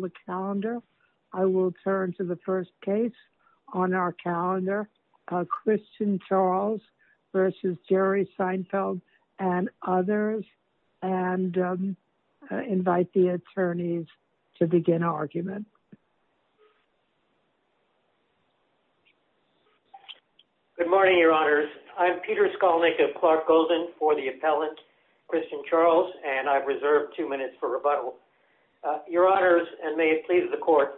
the calendar. I will turn to the first case on our calendar, Christian Charles versus Jerry Seinfeld and others, and invite the attorneys to begin our argument. Good morning, your honors. I'm Peter Skolnick of Clark Golden for the appellant Christian Charles, and I've reserved two minutes for rebuttal. Your honors, and may it please the court,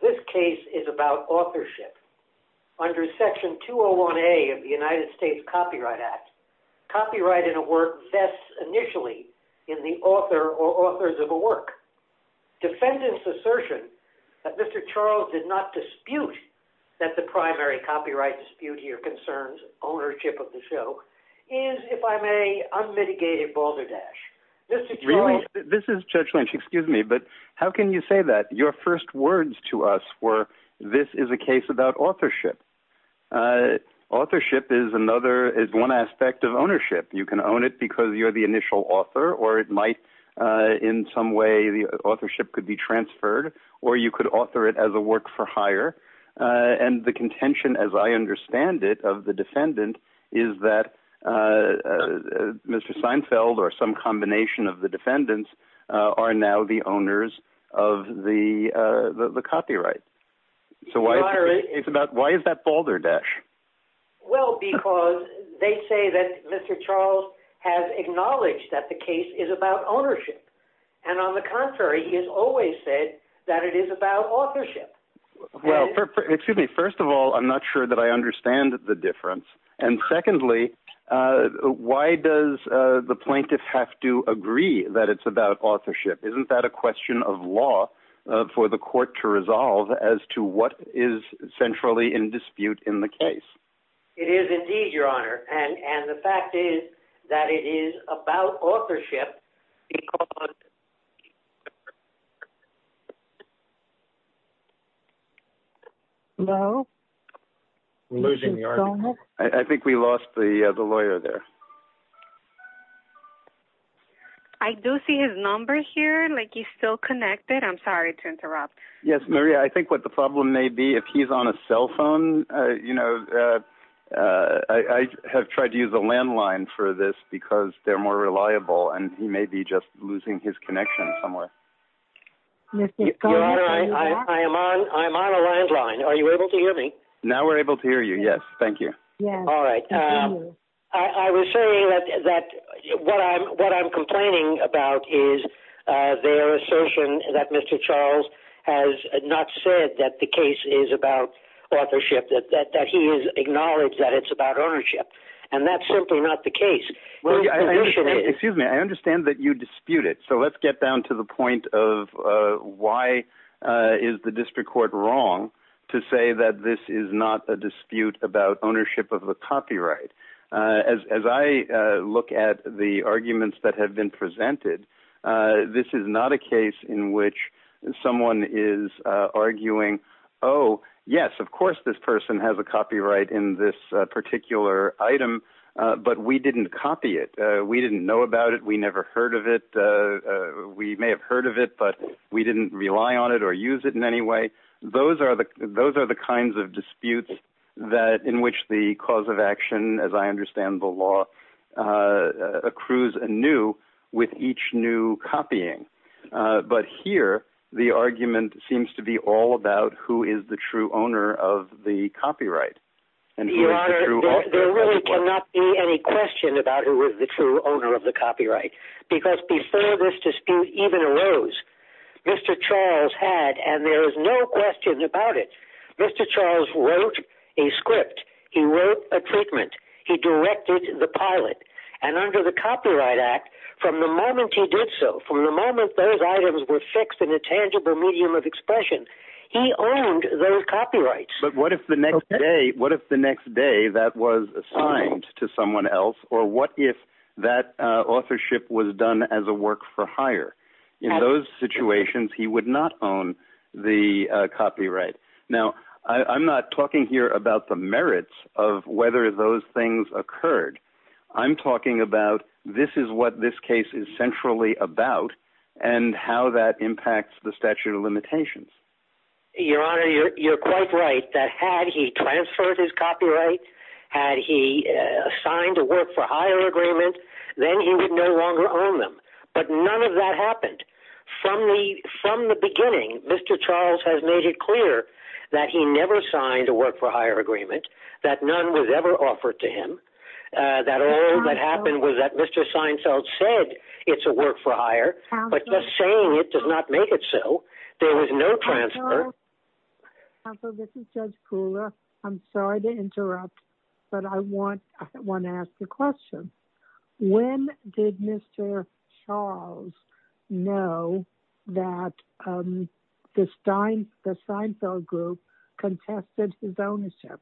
this case is about authorship. Under section 201A of the United States Copyright Act, copyright in a work vests initially in the author or authors of a work. Defendant's assertion that Mr. Charles did not dispute that the primary copyright dispute here concerns ownership of the show, is, if I may, unmitigated balderdash. Mr. Charles, this is Judge Lynch, excuse me, but how can you say that? Your first words to us were, this is a case about authorship. Authorship is one aspect of ownership. You can own it because you're the initial author, or it might, in some way, the authorship could be transferred, or you could author it as a work-for-hire, and the contention, as I understand it, of the defendant is that Mr. Seinfeld, or some combination of the defendants, are now the owners of the copyright. Why is that balderdash? Well, because they say that Mr. Charles has acknowledged that the case is about ownership, and on the contrary, he has always said that it is about authorship. Well, excuse me, first of all, I'm not sure that I understand the difference, and secondly, why does the plaintiff have to agree that it's about authorship? Isn't that a question of law for the court to resolve as to what is centrally in dispute in the case? It is a question of law. I think we lost the lawyer there. I do see his number here. He's still connected. I'm sorry to interrupt. Yes, Maria, I think what the problem may be, if he's on a cell phone, you know, I have tried to use a landline for this because they're more reliable, and he may be just losing his connection somewhere. Your Honor, I am on a landline. Are you able to hear me? Now we're able to hear you, yes. Thank you. All right. I was saying that what I'm complaining about is their assertion that Mr. Charles has not said that the case is about authorship, that he has acknowledged that it's about ownership, and that's simply not the case. Excuse me. I understand that you dispute it, so let's get down to the point of why is the district court wrong to say that this is not a dispute about ownership of the copyright? As I look at the arguments that have been presented, this is not a case in which someone is arguing, oh, yes, of course this person has a copyright in this particular item, but we didn't copy it. We didn't know about it. We never heard of it. We may have heard of it, but we didn't rely on it or use it in any way. Those are the kinds of disputes in which the cause of action, as I understand the law, accrues anew with each new copying. But here, the argument seems to be all about who is the true owner of the copyright, and Your Honor, there really cannot be any question about who is the true owner of the copyright, because before this dispute even arose, Mr. Charles had, and there is no question about it, Mr. Charles wrote a script. He wrote a treatment. He directed the pilot, and under the Copyright Act, from the moment he did so, from the moment those items were fixed in a tangible medium of expression, he owned those copyrights. But what if the next day, what if the next day that was assigned to someone else, or what if that authorship was done as a work-for-hire? In those situations, he would not own the copyright. Now, I'm not talking here about the merits of whether those things occurred. I'm talking about this is what this case is centrally about, and how that impacts the statute of limitations. Your Honor, you're quite right that had he transferred his copyright, had he signed a work-for-hire agreement, then he would no longer own them. But none of that happened. From the beginning, Mr. Charles has made it clear that he never signed a work-for-hire agreement, that none was ever offered to him, that all that happened was that Mr. Seinfeld said it's a work-for-hire, but just saying it does not make it so. There was no transfer. Counsel, this is Judge Kula. I'm sorry to interrupt, but I want to ask a question. When did Mr. Charles know that the Steinfeld Group contested his ownership?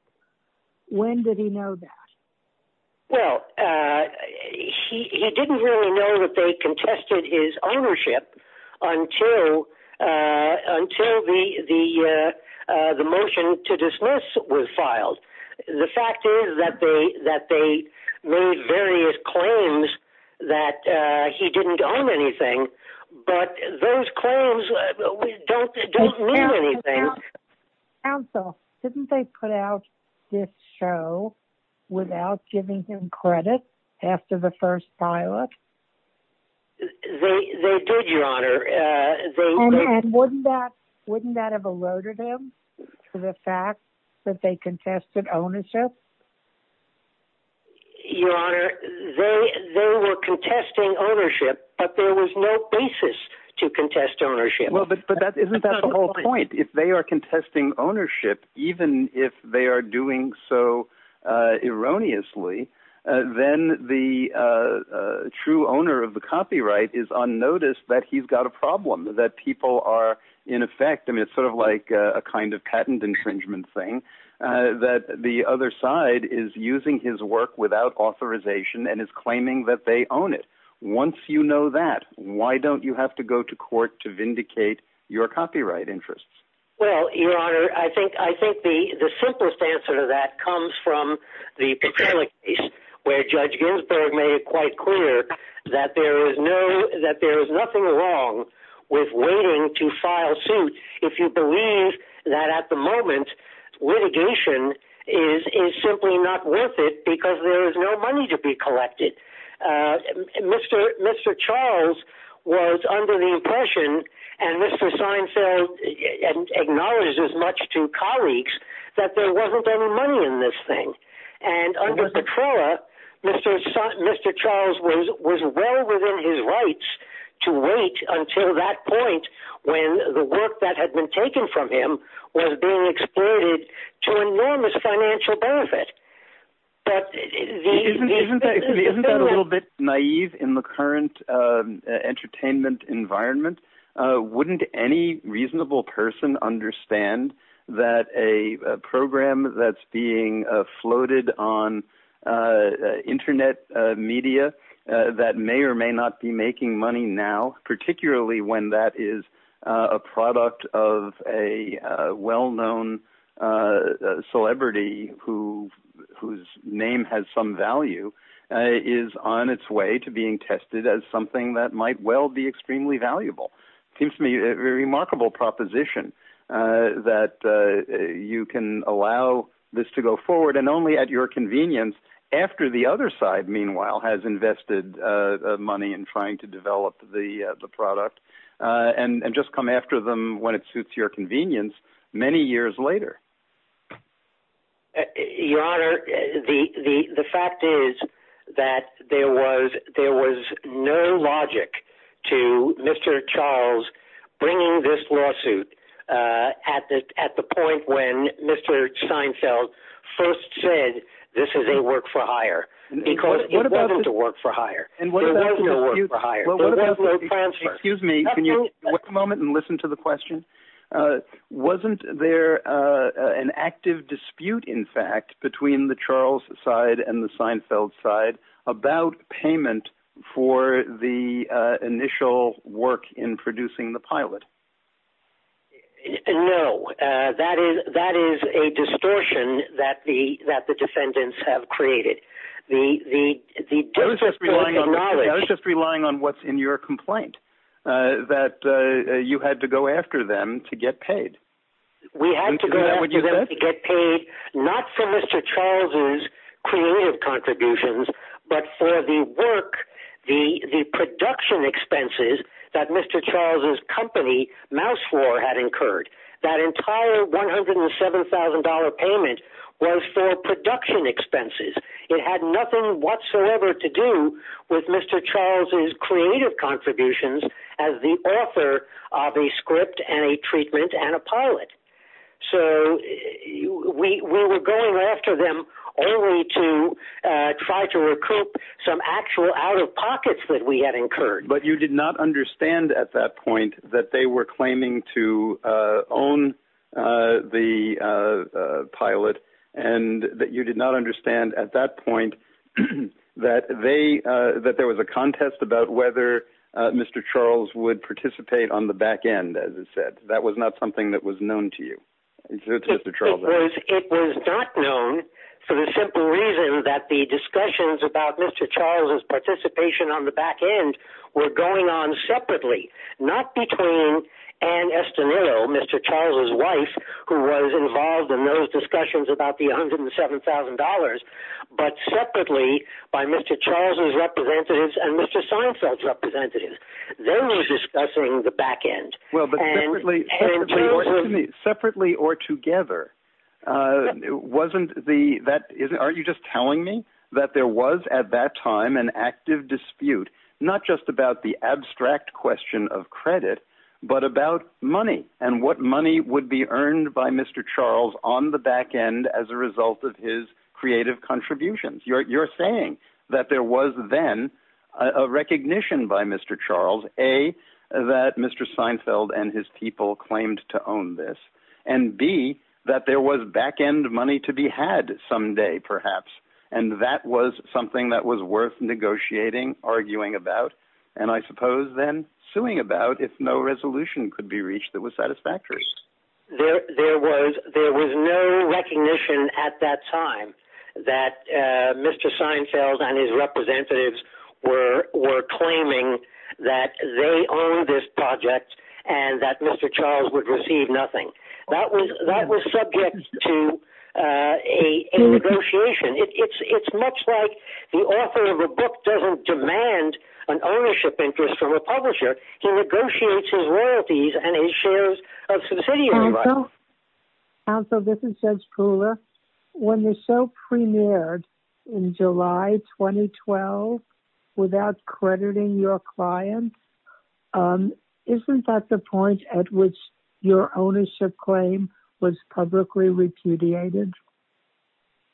When did he know that? Well, he didn't really know that they contested his ownership until the motion to dismiss was filed. The fact is that they made various claims that he didn't own anything, but those giving him credit after the first pilot? They did, Your Honor. Wouldn't that have eroded him, the fact that they contested ownership? Your Honor, they were contesting ownership, but there was no basis to contest ownership. Well, but isn't that the whole point? If they are contesting ownership, even if they are doing so erroneously, then the true owner of the copyright is unnoticed, that he's got a problem, that people are in effect, and it's sort of like a kind of patent infringement thing, that the other side is using his work without authorization and is claiming that they own it. Once you know that, why don't you have to go to court to vindicate your copyright interests? Well, Your Honor, I think the simplest answer to that comes from the Petrella case, where Judge Ginsburg made it quite clear that there is nothing wrong with waiting to file suit if you believe that at the moment, litigation is simply not worth it because there is no money to be collected. Mr. Charles was under the impression, and Mr. Seinfeld acknowledges as much to colleagues, that there wasn't any money in this thing. And under Petrella, Mr. Charles was well within his rights to wait until that point when the work that had been taken from him was being exploited to enormous financial benefit. But isn't that a little bit naive in the current entertainment environment? Wouldn't any reasonable person understand that a program that's being floated on internet media that may or may not be making money now, particularly when that is a product of a well-known celebrity whose name has some value, is on its way to being tested as something that might well be extremely valuable? Seems to me a remarkable proposition that you can allow this to go forward and only at your to develop the product and just come after them when it suits your convenience many years later. Your Honor, the fact is that there was no logic to Mr. Charles bringing this lawsuit at the point when Mr. Seinfeld first said this is a work-for-hire because it wasn't a work-for-hire. Excuse me, can you take a moment and listen to the question? Wasn't there an active dispute, in fact, between the Charles side and the Seinfeld side about payment for the initial work in producing the pilot? No, that is a distortion that the defendants have created. I was just relying on what's in your complaint, that you had to go after them to get paid. We had to go after them to get paid, not for Mr. Charles's creative contributions, but for the work, the production expenses that Mr. Charles's company, Mouse 4, had incurred. That entire $107,000 payment was for production expenses. It had nothing whatsoever to do with Mr. Charles's creative contributions as the author of a script and a treatment and a pilot. So we were going after them only to try to recoup some actual out-of-pockets that we had incurred. You did not understand at that point that they were claiming to own the pilot, and that you did not understand at that point that there was a contest about whether Mr. Charles would participate on the back end, as it said. That was not something that was known to you. It was not known for the simple reason that the discussions about Mr. Charles's participation on the back end were going on separately, not between Ann Estanillo, Mr. Charles's wife, who was involved in those discussions about the $107,000, but separately by Mr. Charles's representatives and Mr. Seinfeld's representatives. They were discussing the back end. Well, but separately or together, aren't you just telling me that there was at that time an active dispute, not just about the abstract question of credit, but about money and what money would be earned by Mr. Charles on the back end as a result of his creative contributions? You're saying that there was then a recognition by Mr. Charles, A, that Mr. Seinfeld and his people claimed to there was back end money to be had someday, perhaps, and that was something that was worth negotiating, arguing about, and I suppose then suing about if no resolution could be reached that was satisfactory. There was no recognition at that time that Mr. Seinfeld and his representatives were claiming that they owned this project and that Mr. Charles would receive nothing. That was subject to a negotiation. It's much like the author of a book doesn't demand an ownership interest from a publisher. He negotiates his royalties and his shares of subsidiaries. Counsel, this is Judge Kula. When the show premiered in July 2012 without crediting your client, isn't that the point at which your ownership claim was publicly repudiated?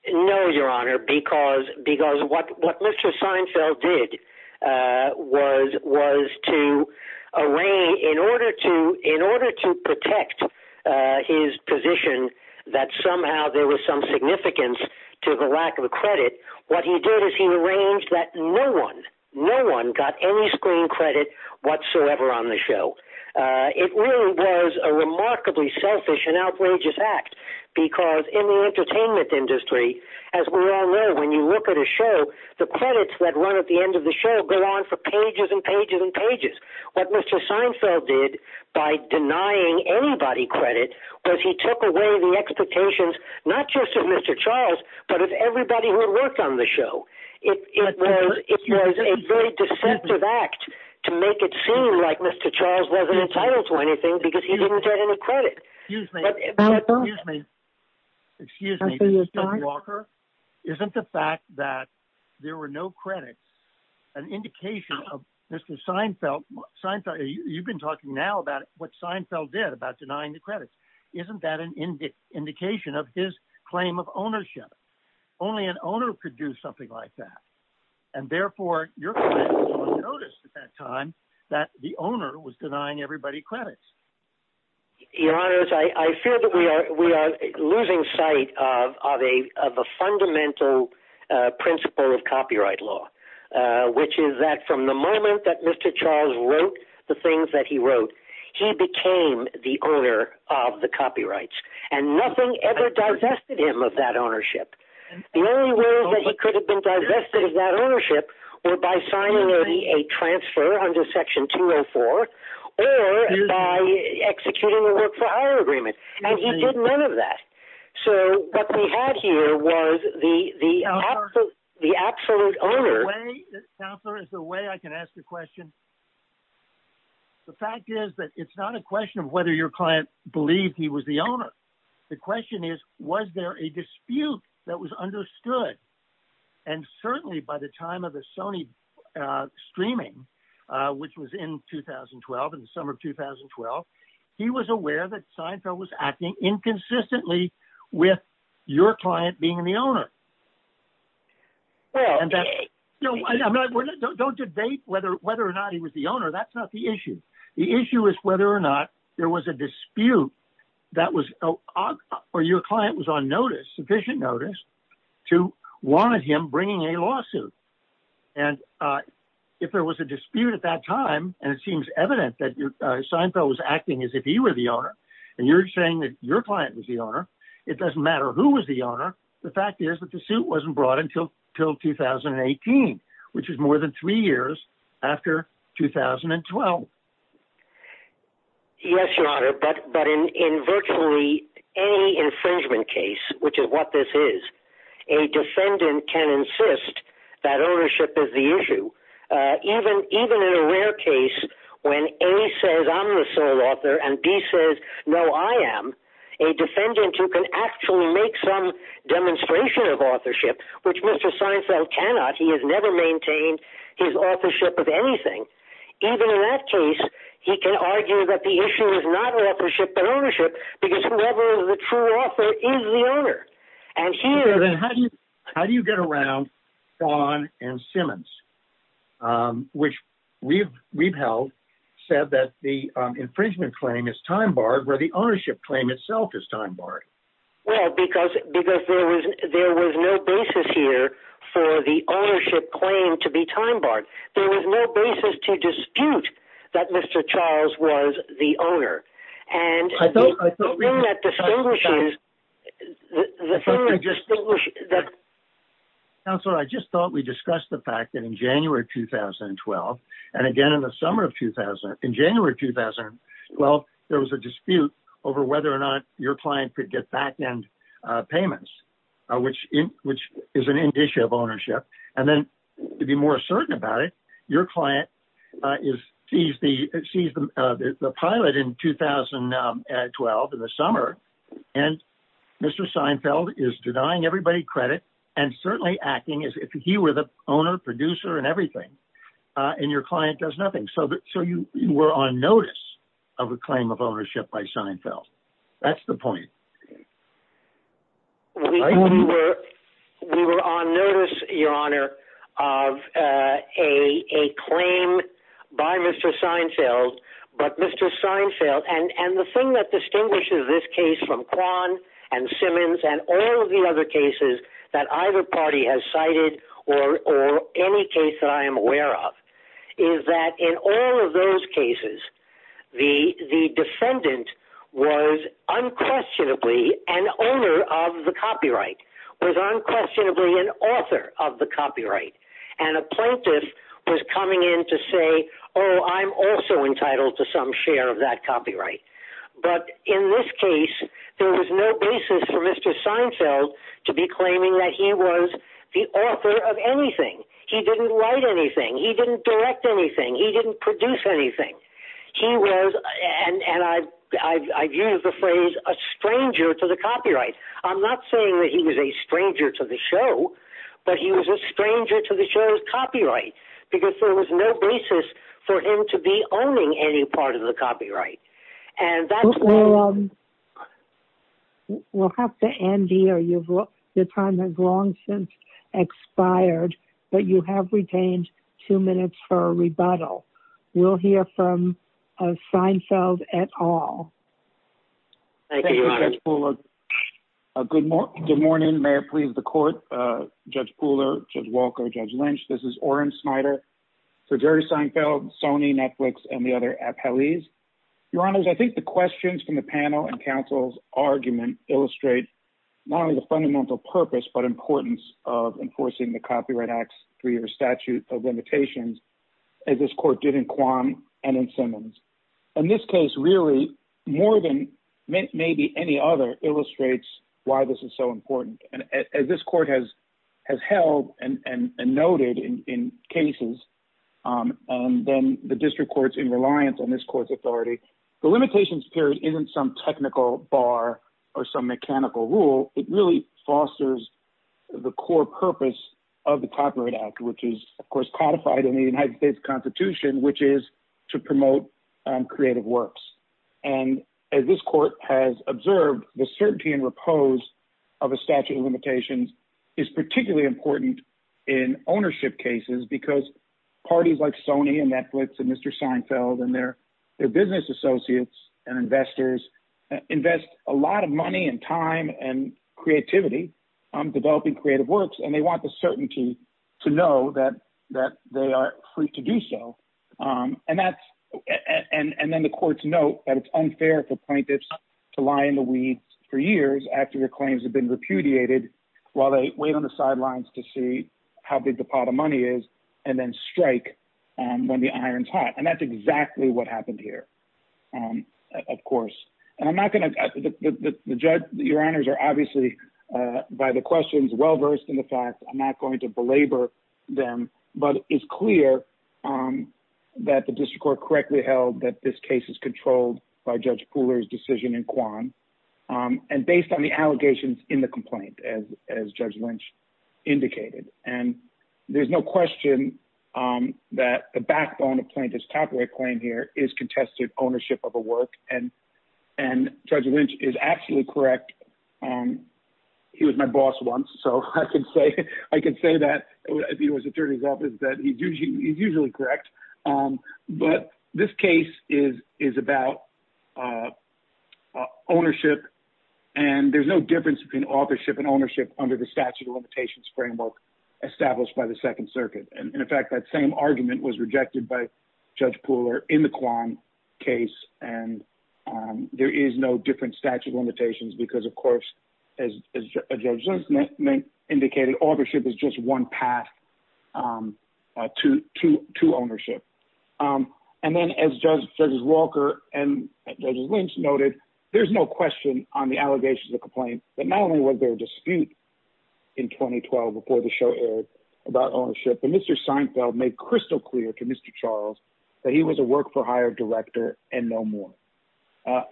No, Your Honor, because what Mr. Seinfeld did was to arrange, in order to protect his position that somehow there was some significance to the lack of a credit, what he did is he arranged that no one, no one got any screen credit whatsoever on the show. It really was a remarkably selfish and outrageous act because in the entertainment industry, as we all know, when you look at a show, the credits that run at the end of the show go on for pages and pages and pages. What Mr. Seinfeld did by denying anybody credit was he took away the expectations, not just of Mr. Charles, but of everybody who had worked on the show. It was a very deceptive act to make it seem like Mr. Charles wasn't entitled to anything because he didn't get any credit. Excuse me, Mr. Walker, isn't the fact that there were no credits an indication of Mr. Seinfeld? Seinfeld, you've been talking now about what Seinfeld did about denying the credits. Isn't that an indication of his claim of ownership? Only an owner could do something like that. And therefore, your client wouldn't have noticed at that time that the owner was denying everybody credits. Your Honor, I fear that we are losing sight of a fundamental principle of copyright law, which is that from the moment that Mr. Charles wrote the things that he wrote, he became the owner of the copyrights and nothing ever divested him of that ownership. The only way that he could have been divested of that ownership were by signing a transfer under Section 204 or by executing a work for hire agreement. And he did none of that. So what we had here was the absolute owner. Counselor, is there a way I can ask the question? The fact is that it's not a question of whether your client believed he was the owner. The question is, was there a dispute that was understood? And certainly by the time of the Sony streaming, which was in 2012, in the summer of 2012, he was aware that Seinfeld was acting inconsistently with your client being the owner. Don't debate whether or not he was the owner. That's not the issue. The issue is whether or not there was a dispute that was or your client was on notice, sufficient notice, to want him bringing a lawsuit. And if there was a dispute at that time, and it seems evident that your client was the owner, it doesn't matter who was the owner. The fact is that the suit wasn't brought until till 2018, which is more than three years after 2012. Yes, your honor. But but in in virtually any infringement case, which is what this is, a defendant can insist that ownership is the issue. Even even in a rare case, when a says I'm the sole author, and B says, No, I am a defendant who can actually make some demonstration of authorship, which Mr. Seinfeld cannot, he has never maintained his authorship of anything. Even in that case, he can argue that the issue is not authorship and ownership, because whoever is the true author is the owner. And here How do you get around on and Simmons, which we've we've held, said that the infringement claim is time barred where the ownership claim itself is time barred? Well, because because there was there was no basis here for the ownership claim to be time barred. There was no basis to dispute that Mr. Charles was the owner. And I don't know that she's just so I just thought we discussed the fact that in January 2012. And again, in the summer of 2000, in January 2012, there was a dispute over whether or not your client could get back end payments, which in which is an indicia of ownership. And then to be more your client is sees the sees the pilot in 2012 in the summer. And Mr. Seinfeld is denying everybody credit and certainly acting as if he were the owner, producer and everything. And your client does nothing so that so you were on notice of a claim of ownership by Seinfeld. That's the point. We were we were on notice, Your Honor, of a claim by Mr. Seinfeld. But Mr. Seinfeld and the thing that distinguishes this case from Kwan and Simmons and all of the other cases that either party has cited or any case that I am aware of is that in all of those cases, the defendant was unquestionably an owner of the copyright, was unquestionably an author of the copyright. And a plaintiff was coming in to say, oh, I'm also entitled to some share of that copyright. But in this case, there was no basis for Mr. Seinfeld to be claiming that he was the author of anything. He didn't write anything. He didn't direct anything. He didn't produce anything. He was and I've used the phrase a stranger to the copyright. I'm not saying that he was a stranger to the show, but he was a stranger to the show's copyright because there was no basis for him to be owning any part of the copyright. And that's where we'll have to end here. Your time has long since expired, but you have retained two minutes for a rebuttal. We'll hear from Seinfeld et al. Thank you, Judge Pooler. Good morning. May it please the court. Judge Pooler, Judge Walker, Judge Lynch, this is Oren Snyder for Jerry Seinfeld, Sony, Netflix, and the other appellees. Your honors, I think the questions from the panel and counsel's argument illustrate not only the fundamental purpose, but importance of enforcing the Copyright Act's three-year statute of and in Simmons. And this case really more than maybe any other illustrates why this is so important. And as this court has held and noted in cases, and then the district courts in reliance on this court's authority, the limitations period isn't some technical bar or some mechanical rule. It really fosters the core purpose of the Copyright Act, which is of course codified in the United States Constitution, which is to promote creative works. And as this court has observed, the certainty and repose of a statute of limitations is particularly important in ownership cases because parties like Sony and Netflix and Mr. Seinfeld and their business associates and investors invest a lot of money and time and creativity on developing creative works, and they want the certainty to know that they are free to do so. And then the courts note that it's unfair for plaintiffs to lie in the weeds for years after their claims have been repudiated while they wait on the sidelines to see how big the pot of money is and then strike when the iron's hot. And that's exactly what happened here, of course. And I'm not going to... Your honors are obviously, by the questions, well-versed in the fact I'm not going to belabor them, but it's clear that the district court correctly held that this case is controlled by Judge Pooler's decision in Quan and based on the allegations in the complaint as Judge Lynch indicated. And there's no question that the backbone of plaintiff's copyright claim here is contested ownership of a work, and Judge Lynch is absolutely correct. He was my boss once, so I can say that if he was attorney's office that he's usually correct. But this case is about ownership, and there's no difference between authorship and ownership under the statute of limitations framework established by the Second Circuit. And in fact, that same argument was used in the Quan case, and there is no different statute of limitations because, of course, as Judge Lynch indicated, authorship is just one path to ownership. And then as Judge Walker and Judge Lynch noted, there's no question on the allegations of complaint that not only was there a dispute in 2012 before the show aired about ownership, but Mr. Seinfeld made crystal to Mr. Charles that he was a work-for-hire director and no more.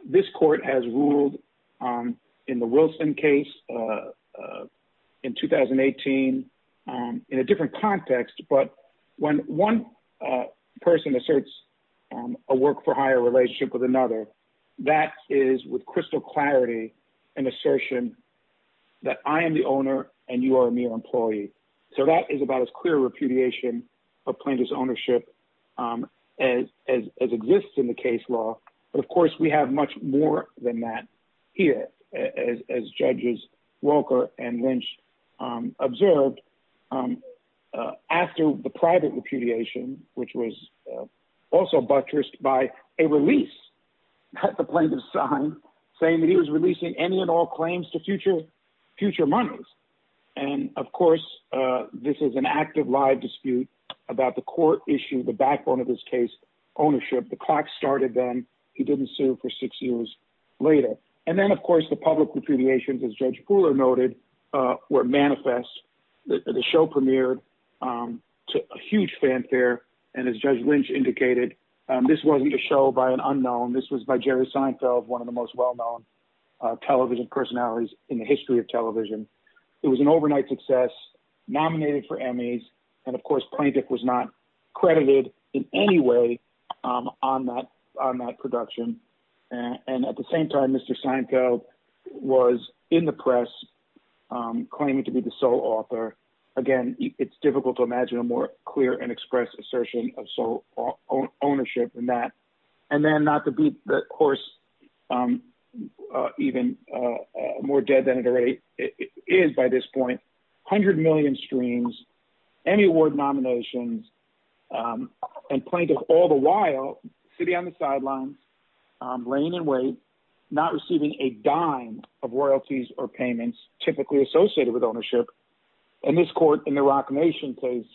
This court has ruled in the Wilson case in 2018 in a different context, but when one person asserts a work-for-hire relationship with another, that is with crystal clarity an assertion that I am the owner and you employee. So that is about as clear repudiation of plaintiff's ownership as exists in the case law. But of course, we have much more than that here as Judges Walker and Lynch observed after the private repudiation, which was also buttressed by a release that the plaintiff signed saying that he was releasing any and all claims to future monies. And of course, this is an active live dispute about the court issue, the backbone of this case, ownership. The clock started then. He didn't sue for six years later. And then, of course, the public repudiation, as Judge Pooler noted, were manifest. The show premiered to a huge fanfare, and as Judge Lynch indicated, this wasn't a show by an unknown. This was by Jerry Seinfeld, one of the most well-known television personalities in the history of television. It was an overnight success, nominated for Emmys. And of course, Plaintiff was not credited in any way on that production. And at the same time, Mr. Seinfeld was in the press claiming to be the sole author. Again, it's difficult to imagine a more clear and express assertion of sole ownership than that. And then, not to beat the course even more dead than it already is by this point, 100 million streams, Emmy Award nominations, and Plaintiff all the while sitting on the sidelines, laying in wait, not receiving a dime of royalties or payments typically associated with ownership. And this court in the Roc Nation case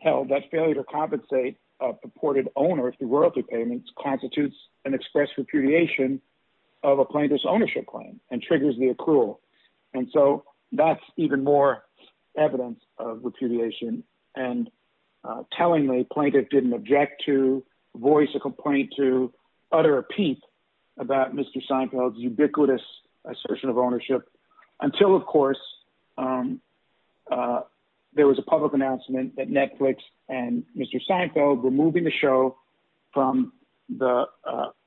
held that failure to compensate a purported owner through royalty payments constitutes an express repudiation of a plaintiff's ownership claim and triggers the accrual. And so, that's even more evidence of repudiation. And tellingly, Plaintiff didn't object to voice a complaint to utter a peep about Mr. Seinfeld's ubiquitous assertion of ownership until, of course, there was a public announcement that Netflix and Mr. Seinfeld were moving the show from the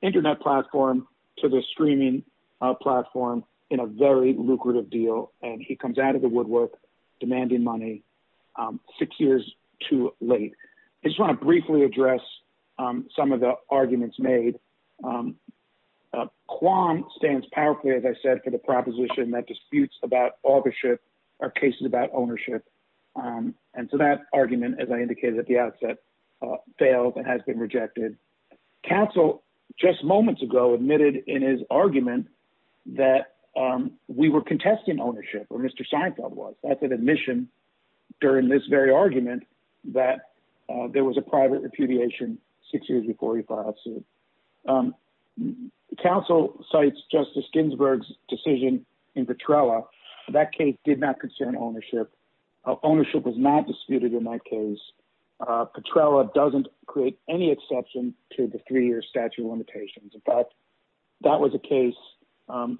internet platform to the streaming platform in a very lucrative deal. And he comes out of the woodwork demanding money six years too late. I just want to briefly address some of the arguments made. Kwan stands powerfully, as I said, for the proposition that disputes about rejected. Counsel just moments ago admitted in his argument that we were contesting ownership, or Mr. Seinfeld was. That's an admission during this very argument that there was a private repudiation six years before he filed suit. Counsel cites Justice Ginsburg's decision in Petrella. That case did not concern ownership. Ownership was not disputed in that case. Petrella doesn't create any exception to the three-year statute of limitations. In fact, that was a case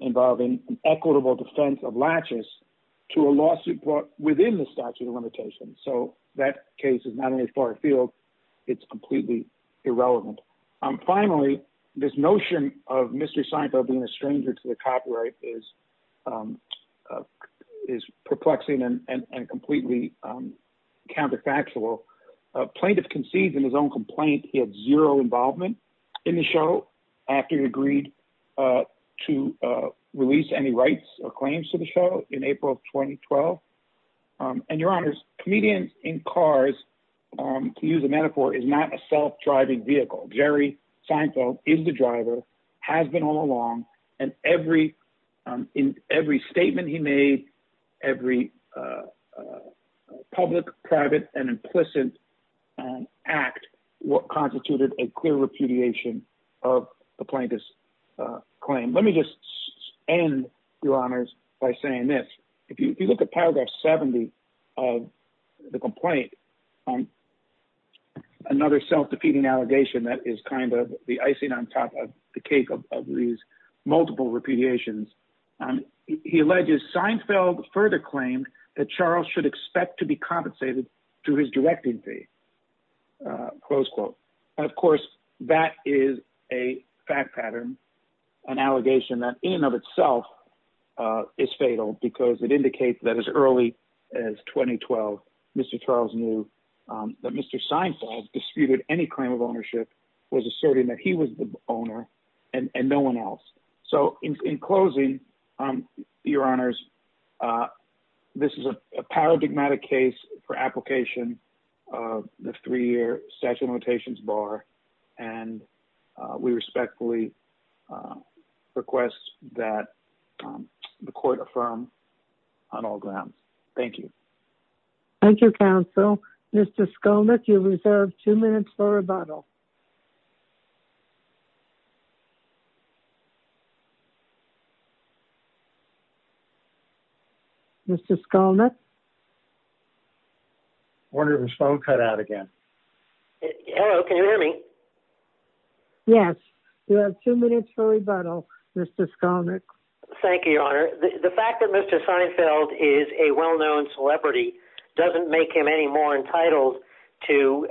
involving an equitable defense of laches to a lawsuit brought within the statute of limitations. So, that case is not in as far a field. It's completely irrelevant. Finally, this notion of Mr. Seinfeld being a stranger to the copyright is perplexing and completely counterfactual. Plaintiff concedes in his own complaint he had zero involvement in the show after he agreed to release any rights or claims to the show in April of 2012. And your honors, comedians in cars, to use a metaphor, is not a self-driving vehicle. Jerry Seinfeld is the driver, has been all along, and in every statement he made, every public, private, and implicit act constituted a clear repudiation of the plaintiff's claim. Let me just end, your honors, by saying this. If you look at paragraph 70 of the complaint, another self-defeating allegation that is kind of the icing on top of the cake of these multiple repudiations, he alleges Seinfeld further claimed that Charles should expect to be compensated through his directing fee, close quote. Of course, that is a fact pattern, an allegation that in and of itself is fatal because it indicates that as early as 2012, Mr. Charles knew that Mr. Seinfeld disputed any claim of ownership, was asserting that he was the owner, and no one else. So in closing, your honors, this is a paradigmatic case for application of the three-year statute of limitations bar, and we respectfully request that the court affirm on all grounds. Thank you. Thank you, counsel. Mr. Skolnick, you have two minutes for rebuttal. Mr. Skolnick? I wonder if his phone cut out again. Hello, can you hear me? Yes. You have two minutes for rebuttal, Mr. Skolnick. Thank you, your honor. The fact that Mr. Seinfeld is a well-known celebrity doesn't make him any more entitled to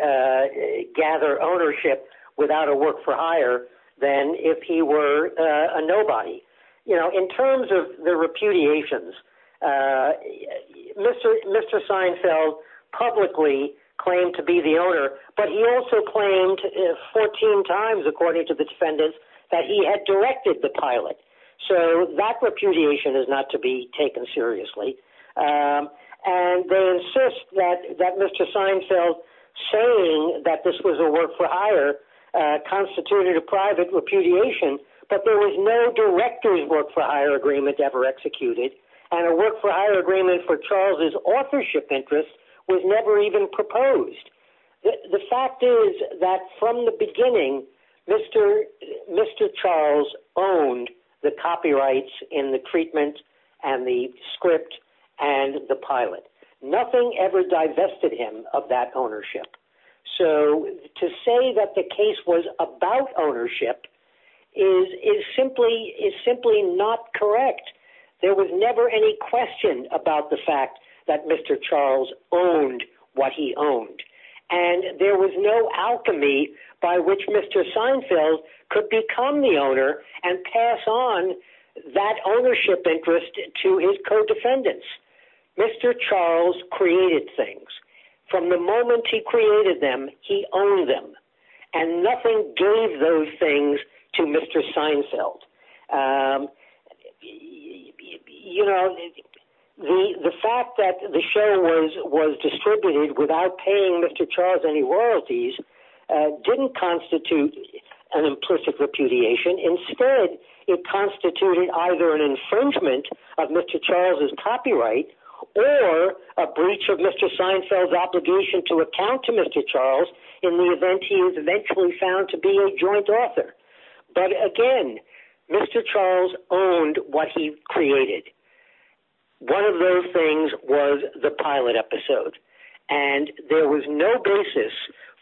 gather ownership without a work for hire than if he were a nobody. You know, in terms of the repudiations, Mr. Seinfeld publicly claimed to be the owner, but he also claimed 14 times, according to the defendants, that he had directed the pilot. So that repudiation is not to be taken seriously. And they insist that Mr. Seinfeld saying that this was a work for hire constituted a private repudiation, but there was no director's work for hire agreement ever executed, and a work for hire agreement for Charles's authorship owned the copyrights in the treatment and the script and the pilot. Nothing ever divested him of that ownership. So to say that the case was about ownership is simply not correct. There was never any question about the fact that Mr. Charles owned what he owned, and there was no alchemy by which Mr. Seinfeld could become the owner and pass on that ownership interest to his co-defendants. Mr. Charles created things. From the moment he created them, he owned them, and nothing gave those things to Mr. Seinfeld. You know, the fact that the show was distributed without paying Mr. Charles any royalties didn't constitute an implicit repudiation. Instead, it constituted either an infringement of Mr. Charles's copyright or a breach of Mr. Seinfeld's obligation to account to Mr. Charles in the event he is eventually found to be a joint author. But again, Mr. Charles owned what he created. One of those things was the pilot episode, and there was no basis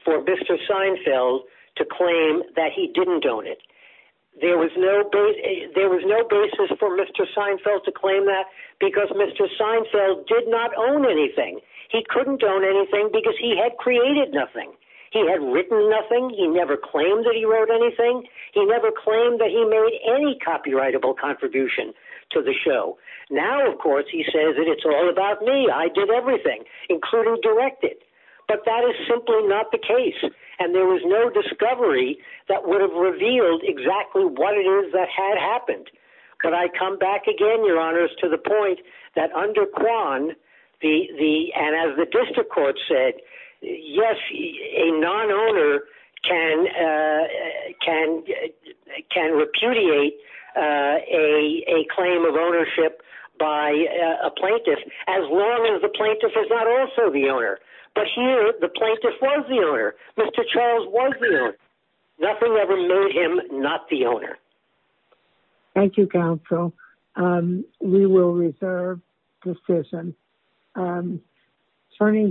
for Mr. Seinfeld to claim that he didn't own it. There was no basis for Mr. Seinfeld to claim that because Mr. Seinfeld did not own anything. He couldn't own anything because he had created nothing. He had written nothing. He never claimed that he wrote anything. He never claimed that he made any copyrightable contribution to the show. Now, of course, he says that it's all about me. I did everything, including direct it. But that is simply not the case, and there was no discovery that would have revealed exactly what it is that had happened. Could I come back again, Your Honors, to the point that under Kwan, and as the district court said, yes, a non-owner can repudiate a claim of ownership by a plaintiff, as long as the plaintiff is not also the owner. But here, the plaintiff was the owner. Mr. Charles was the owner. Nothing ever made him not the owner. Thank you, counsel. We will reserve the decision.